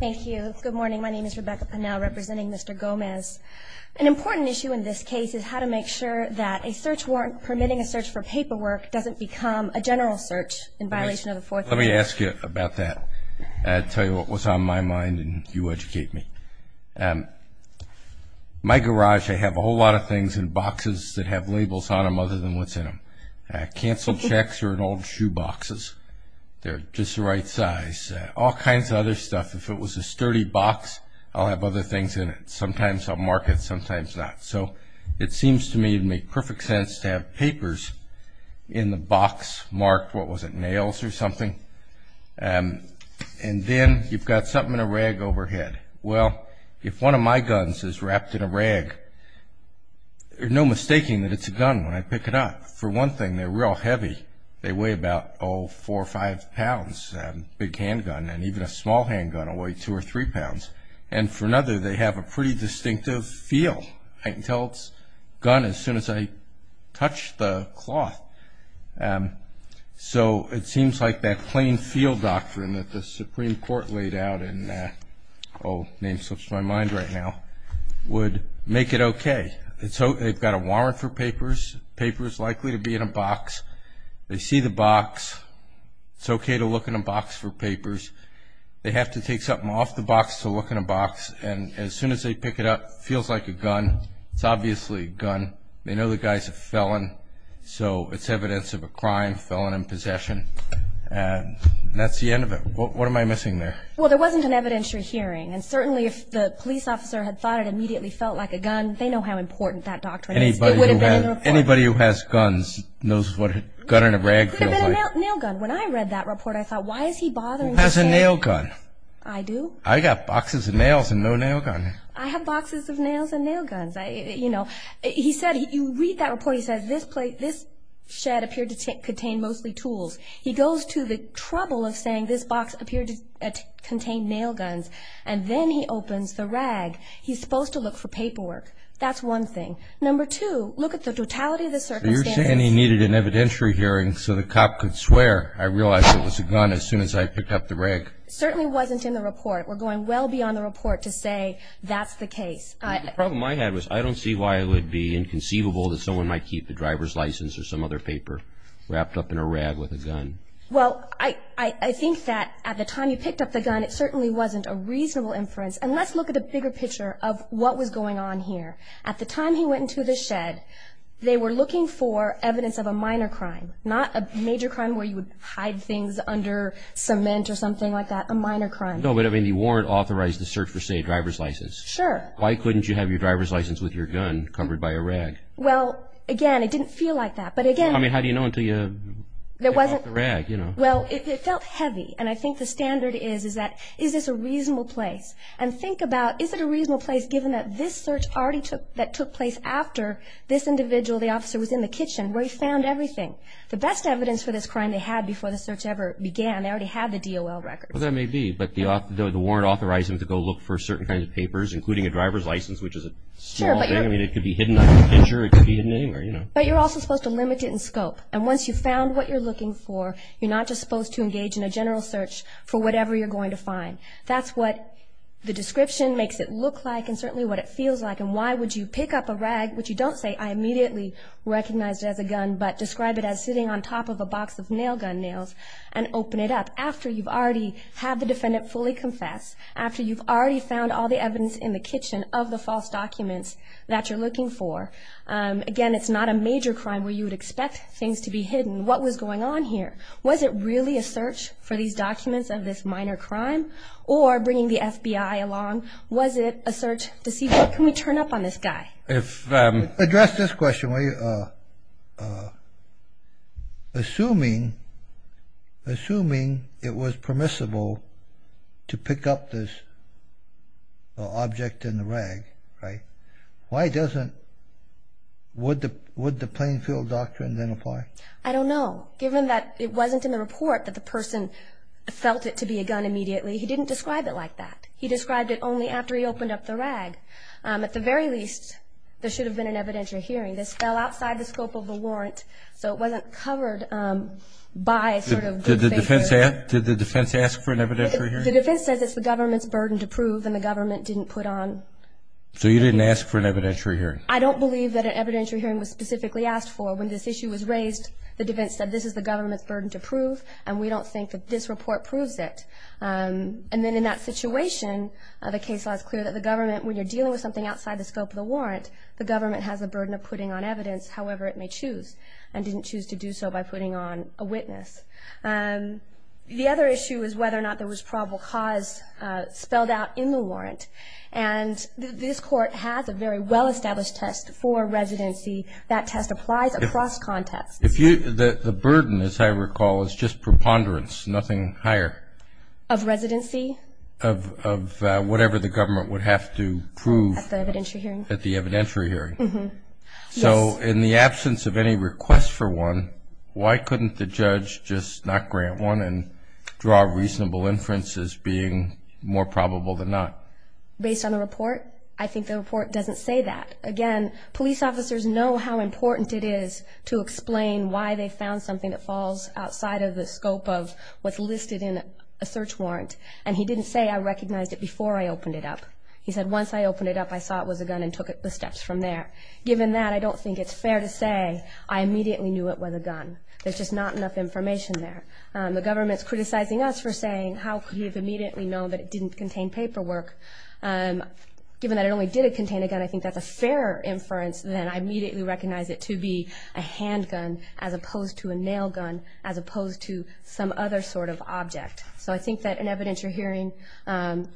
Thank you. Good morning. My name is Rebecca Pannell representing Mr. Gomez. An important issue in this case is how to make sure that a search warrant permitting a search for paperwork doesn't become a general search in violation of the Fourth Amendment. Let me ask you about that. I'll tell you what was on my mind and you educate me. My garage, I have a whole lot of things in boxes that have labels on them other than what's in them. Canceled checks are in old shoe boxes. They're just the right size. All kinds of other stuff. If it was a sturdy box, I'll have other things in it. Sometimes I'll mark it, sometimes not. So it seems to me it would make perfect sense to have papers in the box marked, what was it, nails or something. And then you've got something in a rag overhead. Well, if one of my guns is wrapped in a rag, no mistaking that it's a gun when I pick it up. For one thing, they're real heavy. They weigh about, oh, four or five pounds. A big handgun and even a small handgun will weigh two or three pounds. And for another, they have a pretty distinctive feel. I can tell it's a gun as soon as I touch the cloth. So it seems like that plain feel doctrine that the Supreme Court laid out in, oh, name slips my mind right now, would make it okay. And so they've got a warrant for papers. Paper is likely to be in a box. They see the box. It's okay to look in a box for papers. They have to take something off the box to look in a box. And as soon as they pick it up, it feels like a gun. It's obviously a gun. They know the guy's a felon, so it's evidence of a crime, felon in possession. And that's the end of it. What am I missing there? Well, there wasn't an evidentiary hearing. And certainly if the police officer had thought it immediately felt like a gun, they know how important that doctrine is. It would have been in the report. Anybody who has guns knows what a gun in a rag feels like. It would have been a nail gun. When I read that report, I thought, why is he bothering to say? He has a nail gun. I do. I've got boxes of nails and no nail gun. I have boxes of nails and nail guns. You know, he said, you read that report, he says, this shed appeared to contain mostly tools. He goes to the trouble of saying this box appeared to contain nail guns. And then he opens the rag. He's supposed to look for paperwork. That's one thing. Number two, look at the totality of the circumstances. So you're saying he needed an evidentiary hearing so the cop could swear, I realized it was a gun as soon as I picked up the rag. It certainly wasn't in the report. We're going well beyond the report to say that's the case. The problem I had was I don't see why it would be inconceivable that someone might keep the driver's license or some other paper wrapped up in a rag with a gun. Well, I think that at the time you picked up the gun, it certainly wasn't a reasonable inference. And let's look at the bigger picture of what was going on here. At the time he went into the shed, they were looking for evidence of a minor crime, not a major crime where you would hide things under cement or something like that, a minor crime. No, but, I mean, the warrant authorized the search for, say, a driver's license. Sure. Why couldn't you have your driver's license with your gun covered by a rag? Well, again, it didn't feel like that. I mean, how do you know until you pick up the rag? Well, it felt heavy, and I think the standard is that is this a reasonable place? And think about is it a reasonable place given that this search already took place after this individual, the officer, was in the kitchen where he found everything. The best evidence for this crime they had before the search ever began, they already had the DOL records. Well, that may be, but the warrant authorized them to go look for certain kinds of papers, including a driver's license, which is a small thing. I mean, it could be hidden under a picture. It could be hidden anywhere, you know. But you're also supposed to limit it in scope. And once you've found what you're looking for, you're not just supposed to engage in a general search for whatever you're going to find. That's what the description makes it look like and certainly what it feels like. And why would you pick up a rag, which you don't say I immediately recognized it as a gun, but describe it as sitting on top of a box of nail gun nails and open it up after you've already had the defendant fully confess, after you've already found all the evidence in the kitchen of the false documents that you're looking for. Again, it's not a major crime where you would expect things to be hidden. What was going on here? Was it really a search for these documents of this minor crime or bringing the FBI along? Was it a search to see, can we turn up on this guy? Address this question. Assuming it was permissible to pick up this object in the rag, right, why doesn't, would the Plainfield Doctrine then apply? I don't know. Given that it wasn't in the report that the person felt it to be a gun immediately, he didn't describe it like that. He described it only after he opened up the rag. At the very least, there should have been an evidentiary hearing. This fell outside the scope of the warrant, so it wasn't covered by sort of the defense hearing. Did the defense ask for an evidentiary hearing? The defense says it's the government's burden to prove and the government didn't put on. So you didn't ask for an evidentiary hearing? I don't believe that an evidentiary hearing was specifically asked for. When this issue was raised, the defense said this is the government's burden to prove and we don't think that this report proves it. And then in that situation, the case law is clear that the government, when you're dealing with something outside the scope of the warrant, the government has a burden of putting on evidence however it may choose and didn't choose to do so by putting on a witness. The other issue is whether or not there was probable cause spelled out in the warrant. And this Court has a very well-established test for residency. That test applies across contexts. The burden, as I recall, is just preponderance, nothing higher. Of residency? Of whatever the government would have to prove. At the evidentiary hearing? At the evidentiary hearing. So in the absence of any request for one, why couldn't the judge just not grant one and draw a reasonable inference as being more probable than not? Based on the report? I think the report doesn't say that. Again, police officers know how important it is to explain why they found something that falls outside of the scope of what's listed in a search warrant. And he didn't say, I recognized it before I opened it up. He said, once I opened it up, I saw it was a gun and took the steps from there. Given that, I don't think it's fair to say I immediately knew it was a gun. There's just not enough information there. The government's criticizing us for saying, how could you have immediately known that it didn't contain paperwork? Given that it only did contain a gun, I think that's a fair inference that I immediately recognize it to be a handgun as opposed to a nail gun, as opposed to some other sort of object. So I think that an evidentiary hearing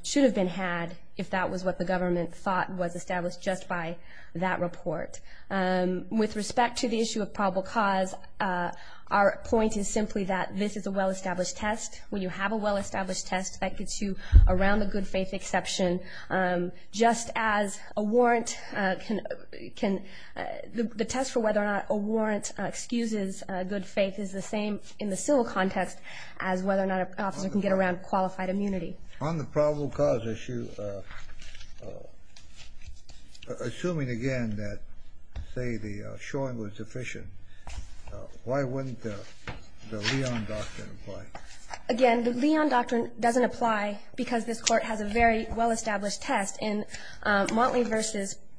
should have been had if that was what the government thought was established just by that report. With respect to the issue of probable cause, our point is simply that this is a well-established test. When you have a well-established test, that gets you around the good faith exception. Just as a warrant can, the test for whether or not a warrant excuses good faith is the same in the civil context as whether or not an officer can get around qualified immunity. On the probable cause issue, assuming again that, say, the showing was sufficient, why wouldn't the Leon Doctrine apply? Again, the Leon Doctrine doesn't apply because this Court has a very well-established test. In Motley v.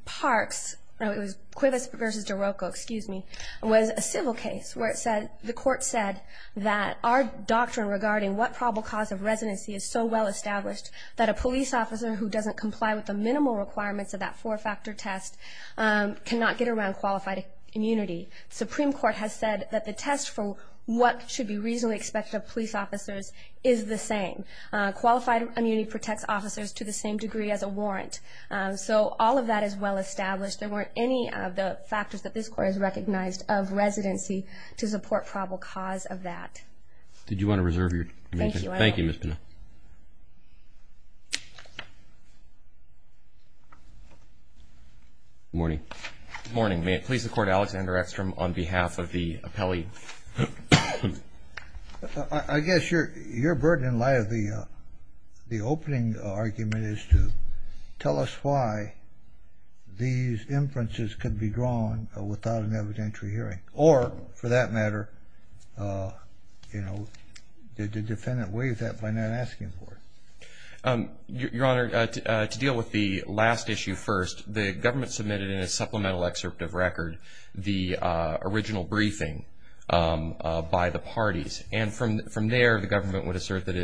Parks, no, it was Quivis v. DeRocco, excuse me, was a civil case where the Court said that our doctrine regarding what probable cause of residency is so well-established that a police officer who doesn't comply with the minimal requirements of that four-factor test cannot get around qualified immunity. The Supreme Court has said that the test for what should be reasonably expected of police officers is the same. Qualified immunity protects officers to the same degree as a warrant. So all of that is well-established. There weren't any of the factors that this Court has recognized of residency to support probable cause of that. Thank you, Ms. Pena. Good morning. Good morning. May it please the Court, Alexander Eckstrom, on behalf of the appellee? I guess your burden in light of the opening argument is to tell us why these inferences could be drawn without an evidentiary hearing or, for that matter, the defendant waives that by not asking for it. Your Honor, to deal with the last issue first, the government submitted in its supplemental excerpt of record the original briefing by the parties. And from there, the government would assert that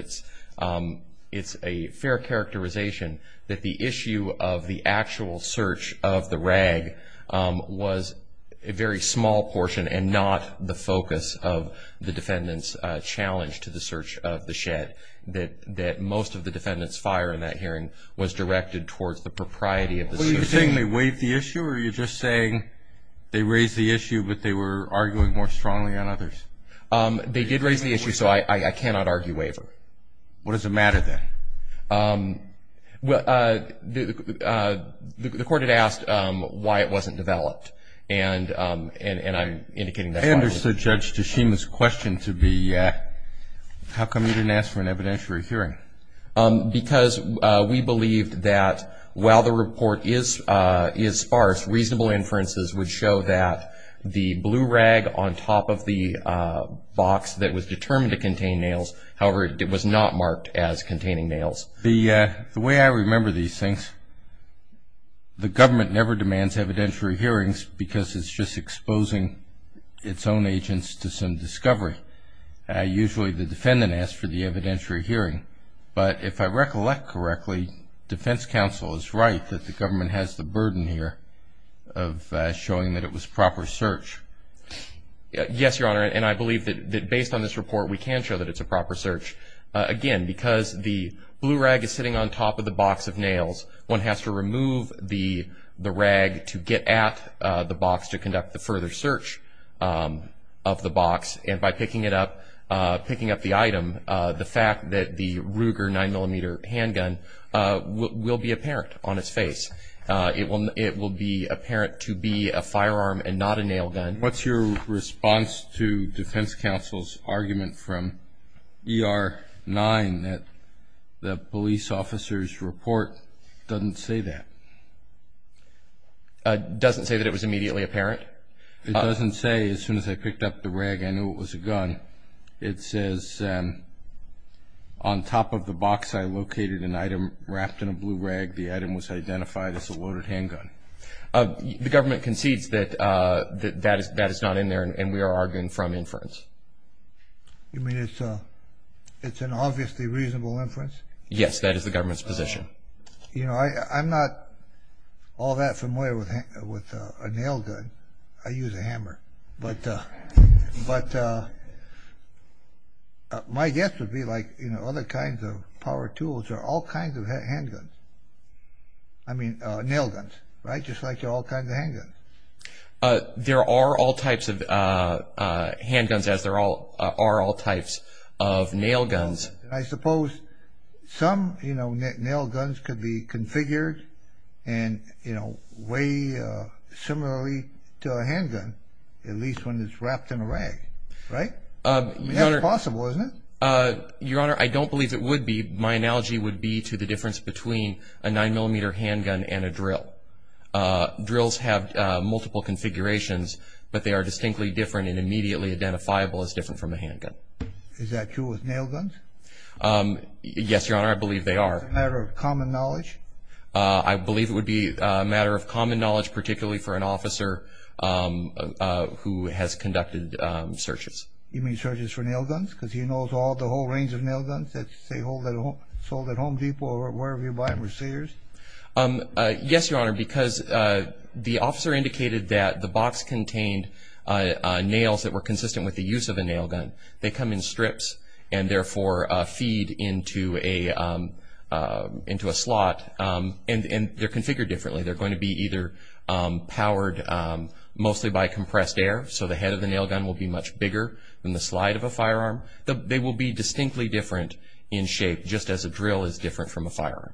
it's a fair characterization that the issue of the actual search of the rag was a very small portion and not the focus of the defendant's challenge to the search of the shed, that most of the defendant's fire in that hearing was directed towards the propriety of the search. Were you saying they waived the issue, or were you just saying they raised the issue, but they were arguing more strongly on others? They did raise the issue, so I cannot argue waiver. What does it matter, then? The Court had asked why it wasn't developed, and I'm indicating that's why it was developed. I understood Judge Tashima's question to be, how come you didn't ask for an evidentiary hearing? Because we believed that while the report is sparse, reasonable inferences would show that the blue rag on top of the box that was determined to contain nails, however, it was not marked as containing nails. The way I remember these things, the government never demands evidentiary hearings because it's just exposing its own agents to some discovery. Usually the defendant asks for the evidentiary hearing, but if I recollect correctly, defense counsel is right that the government has the burden here of showing that it was proper search. Yes, Your Honor, and I believe that based on this report, we can show that it's a proper search. Again, because the blue rag is sitting on top of the box of nails, one has to remove the rag to get at the box to conduct the further search of the box, and by picking up the item, the fact that the Ruger 9mm handgun will be apparent on its face. It will be apparent to be a firearm and not a nail gun. What's your response to defense counsel's argument from ER 9 that the police officer's report doesn't say that? Doesn't say that it was immediately apparent? It doesn't say, as soon as I picked up the rag, I knew it was a gun. It says on top of the box I located an item wrapped in a blue rag. The item was identified as a loaded handgun. The government concedes that that is not in there, and we are arguing from inference. You mean it's an obviously reasonable inference? Yes, that is the government's position. I'm not all that familiar with a nail gun. I use a hammer. My guess would be other kinds of power tools are all kinds of handguns. I mean nail guns, just like there are all kinds of handguns. There are all types of handguns, as there are all types of nail guns. I suppose some nail guns could be configured way similarly to a handgun, at least when it's wrapped in a rag, right? That's possible, isn't it? Your Honor, I don't believe it would be. My analogy would be to the difference between a 9mm handgun and a drill. Drills have multiple configurations, but they are distinctly different and immediately identifiable as different from a handgun. Is that true with nail guns? Yes, Your Honor, I believe they are. Is it a matter of common knowledge? I believe it would be a matter of common knowledge, particularly for an officer who has conducted searches. You mean searches for nail guns? Because he knows the whole range of nail guns that are sold at Home Depot or wherever you buy them? Yes, Your Honor, because the officer indicated that the box contained nails that were consistent with the use of a nail gun. They come in strips and therefore feed into a slot. They are configured differently. They're going to be either powered mostly by compressed air, so the head of the nail gun will be much bigger than the slide of a firearm. They will be distinctly different in shape, just as a drill is different from a firearm.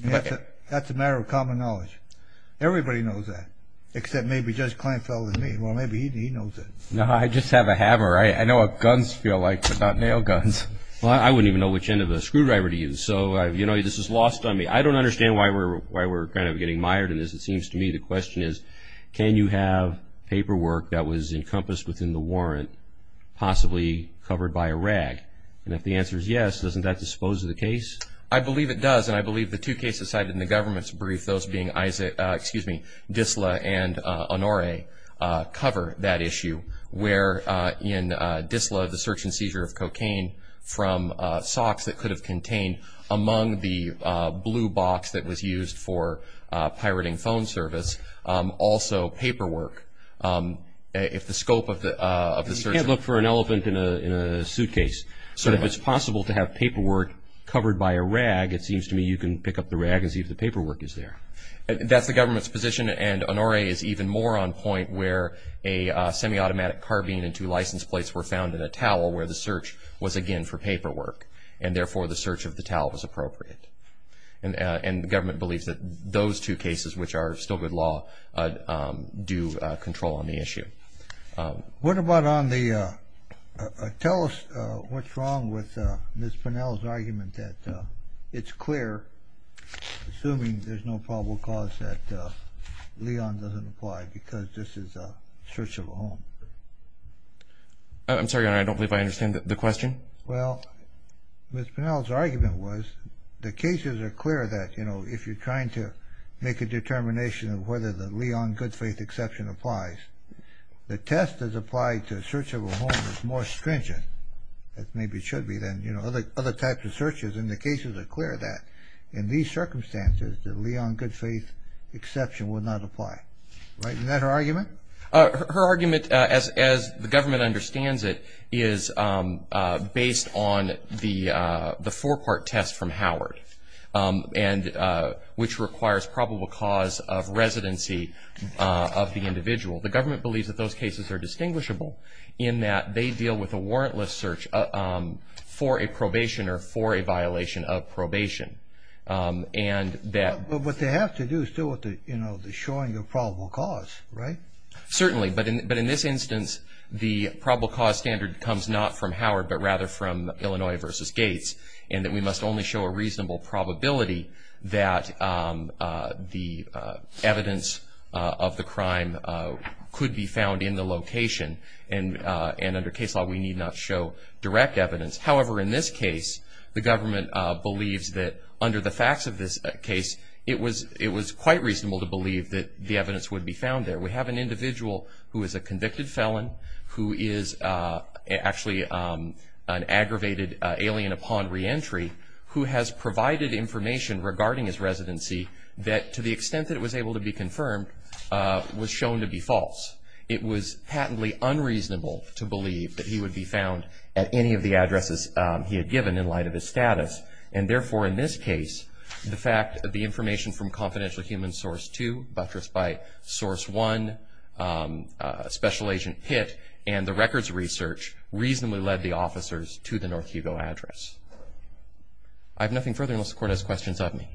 That's a matter of common knowledge. Everybody knows that, except maybe Judge Kleinfeld and me. Well, maybe he knows it. No, I just have a hammer. I know what guns feel like, but not nail guns. I wouldn't even know which end of a screwdriver to use, so this is lost on me. I don't understand why we're getting mired in this. It seems to me the question is, can you have paperwork that was encompassed within the warrant, possibly covered by a rag? And if the answer is yes, doesn't that dispose of the case? I believe it does, and I believe the two cases cited in the government's brief, those being Disla and Honoré, cover that issue, where in Disla, the search and seizure of cocaine from socks that could have contained among the blue box that was used for pirating phone service, also paperwork. If the scope of the search... You can't look for an elephant in a suitcase, so if it's possible to have paperwork covered by a rag, it seems to me you can pick up the rag and see if the paperwork is there. That's the government's position, and Honoré is even more on point, where a semi-automatic carbine and two license plates were found in a towel, where the search was again for paperwork, and therefore the search of the towel was appropriate. And the government believes that those two cases, which are still good law, do control on the issue. What about on the... Tell us what's wrong with Ms. Pinell's argument that it's clear, assuming there's no probable cause, that Leon doesn't apply because this is a search of a home. I'm sorry, Honoré, I don't believe I understand the question. Well, Ms. Pinell's argument was the cases are clear that, you know, if you're trying to make a determination of whether the Leon Goodfaith exception applies, the test that's applied to a search of a home is more stringent, as maybe it should be, than, you know, other types of searches, and the cases are clear that, in these circumstances, the Leon Goodfaith exception would not apply. Is that her argument? Her argument, as the government understands it, is based on the four-part test from Howard, which requires probable cause of residency of the individual. The government believes that those cases are distinguishable, in that they deal with a warrantless search for a probation or for a violation of probation. But what they have to do is deal with the, you know, the showing of probable cause, right? Certainly, but in this instance, the probable cause standard comes not from Howard, but rather from Illinois v. Gates, in that we must only show a reasonable probability that the evidence of the crime could be found in the location, and under case law we need not show direct evidence. However, in this case, the government believes that, under the facts of this case, it was quite reasonable to believe that the evidence would be found there. We have an individual who is a convicted felon, who is actually an aggravated alien upon reentry, who has provided information regarding his residency that, to the extent that it was able to be confirmed, was shown to be false. It was patently unreasonable to believe that he would be found at any of the addresses he had given in light of his status. And therefore, in this case, the fact that the information from Confidential Human Source 2, Buttress By Source 1, Special Agent Pitt, and the records research reasonably led the officers to the North Hugo address. I have nothing further unless the Court has questions of me.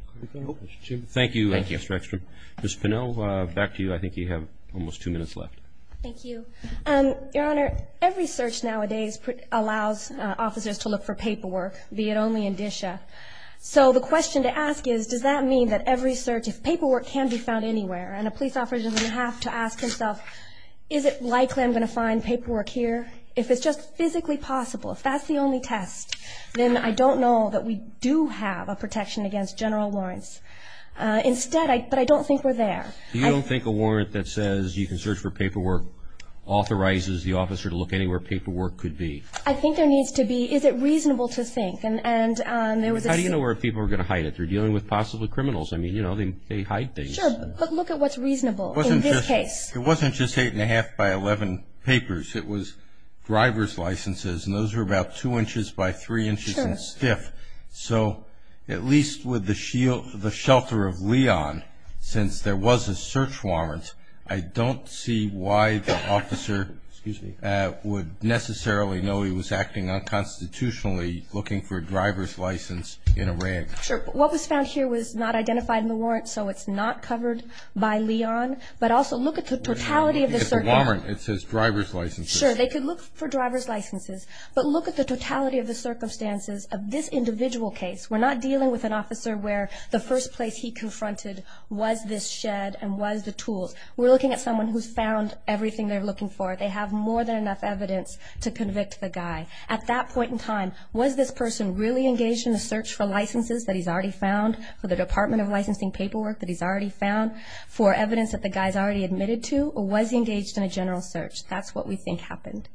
Thank you, Mr. Ekstrom. Ms. Pinnell, back to you. I think you have almost two minutes left. Thank you. Your Honor, every search nowadays allows officers to look for paperwork, be it only in DSHA. So the question to ask is, does that mean that every search, if paperwork can be found anywhere, and a police officer is going to have to ask himself, is it likely I'm going to find paperwork here? If it's just physically possible, if that's the only test, then I don't know that we do have a protection against general warrants. But I don't think we're there. You don't think a warrant that says you can search for paperwork authorizes the officer to look anywhere paperwork could be? I think there needs to be. Is it reasonable to think? How do you know where people are going to hide it? They're dealing with possible criminals. Sure, but look at what's reasonable in this case. It wasn't just 8 1⁄2 by 11 papers. It was driver's licenses, and those were about 2 inches by 3 inches in stiff. So at least with the shelter of Leon, since there was a search warrant, I don't see why the officer would necessarily know he was acting unconstitutionally, looking for a driver's license in a ring. Sure, but what was found here was not identified in the warrant, so it's not covered by Leon. But also look at the totality of the circumstances. Sure, they could look for driver's licenses, but look at the totality of the circumstances of this individual case. We're not dealing with an officer where the first place he confronted was this shed and was the tools. We're looking at someone who's found everything they're looking for. They have more than enough evidence to convict the guy. At that point in time, was this person really engaged in the search for licenses that he's already found, for the Department of Licensing paperwork that he's already found, for evidence that the guy's already admitted to, or was he engaged in a general search? That's what we think happened.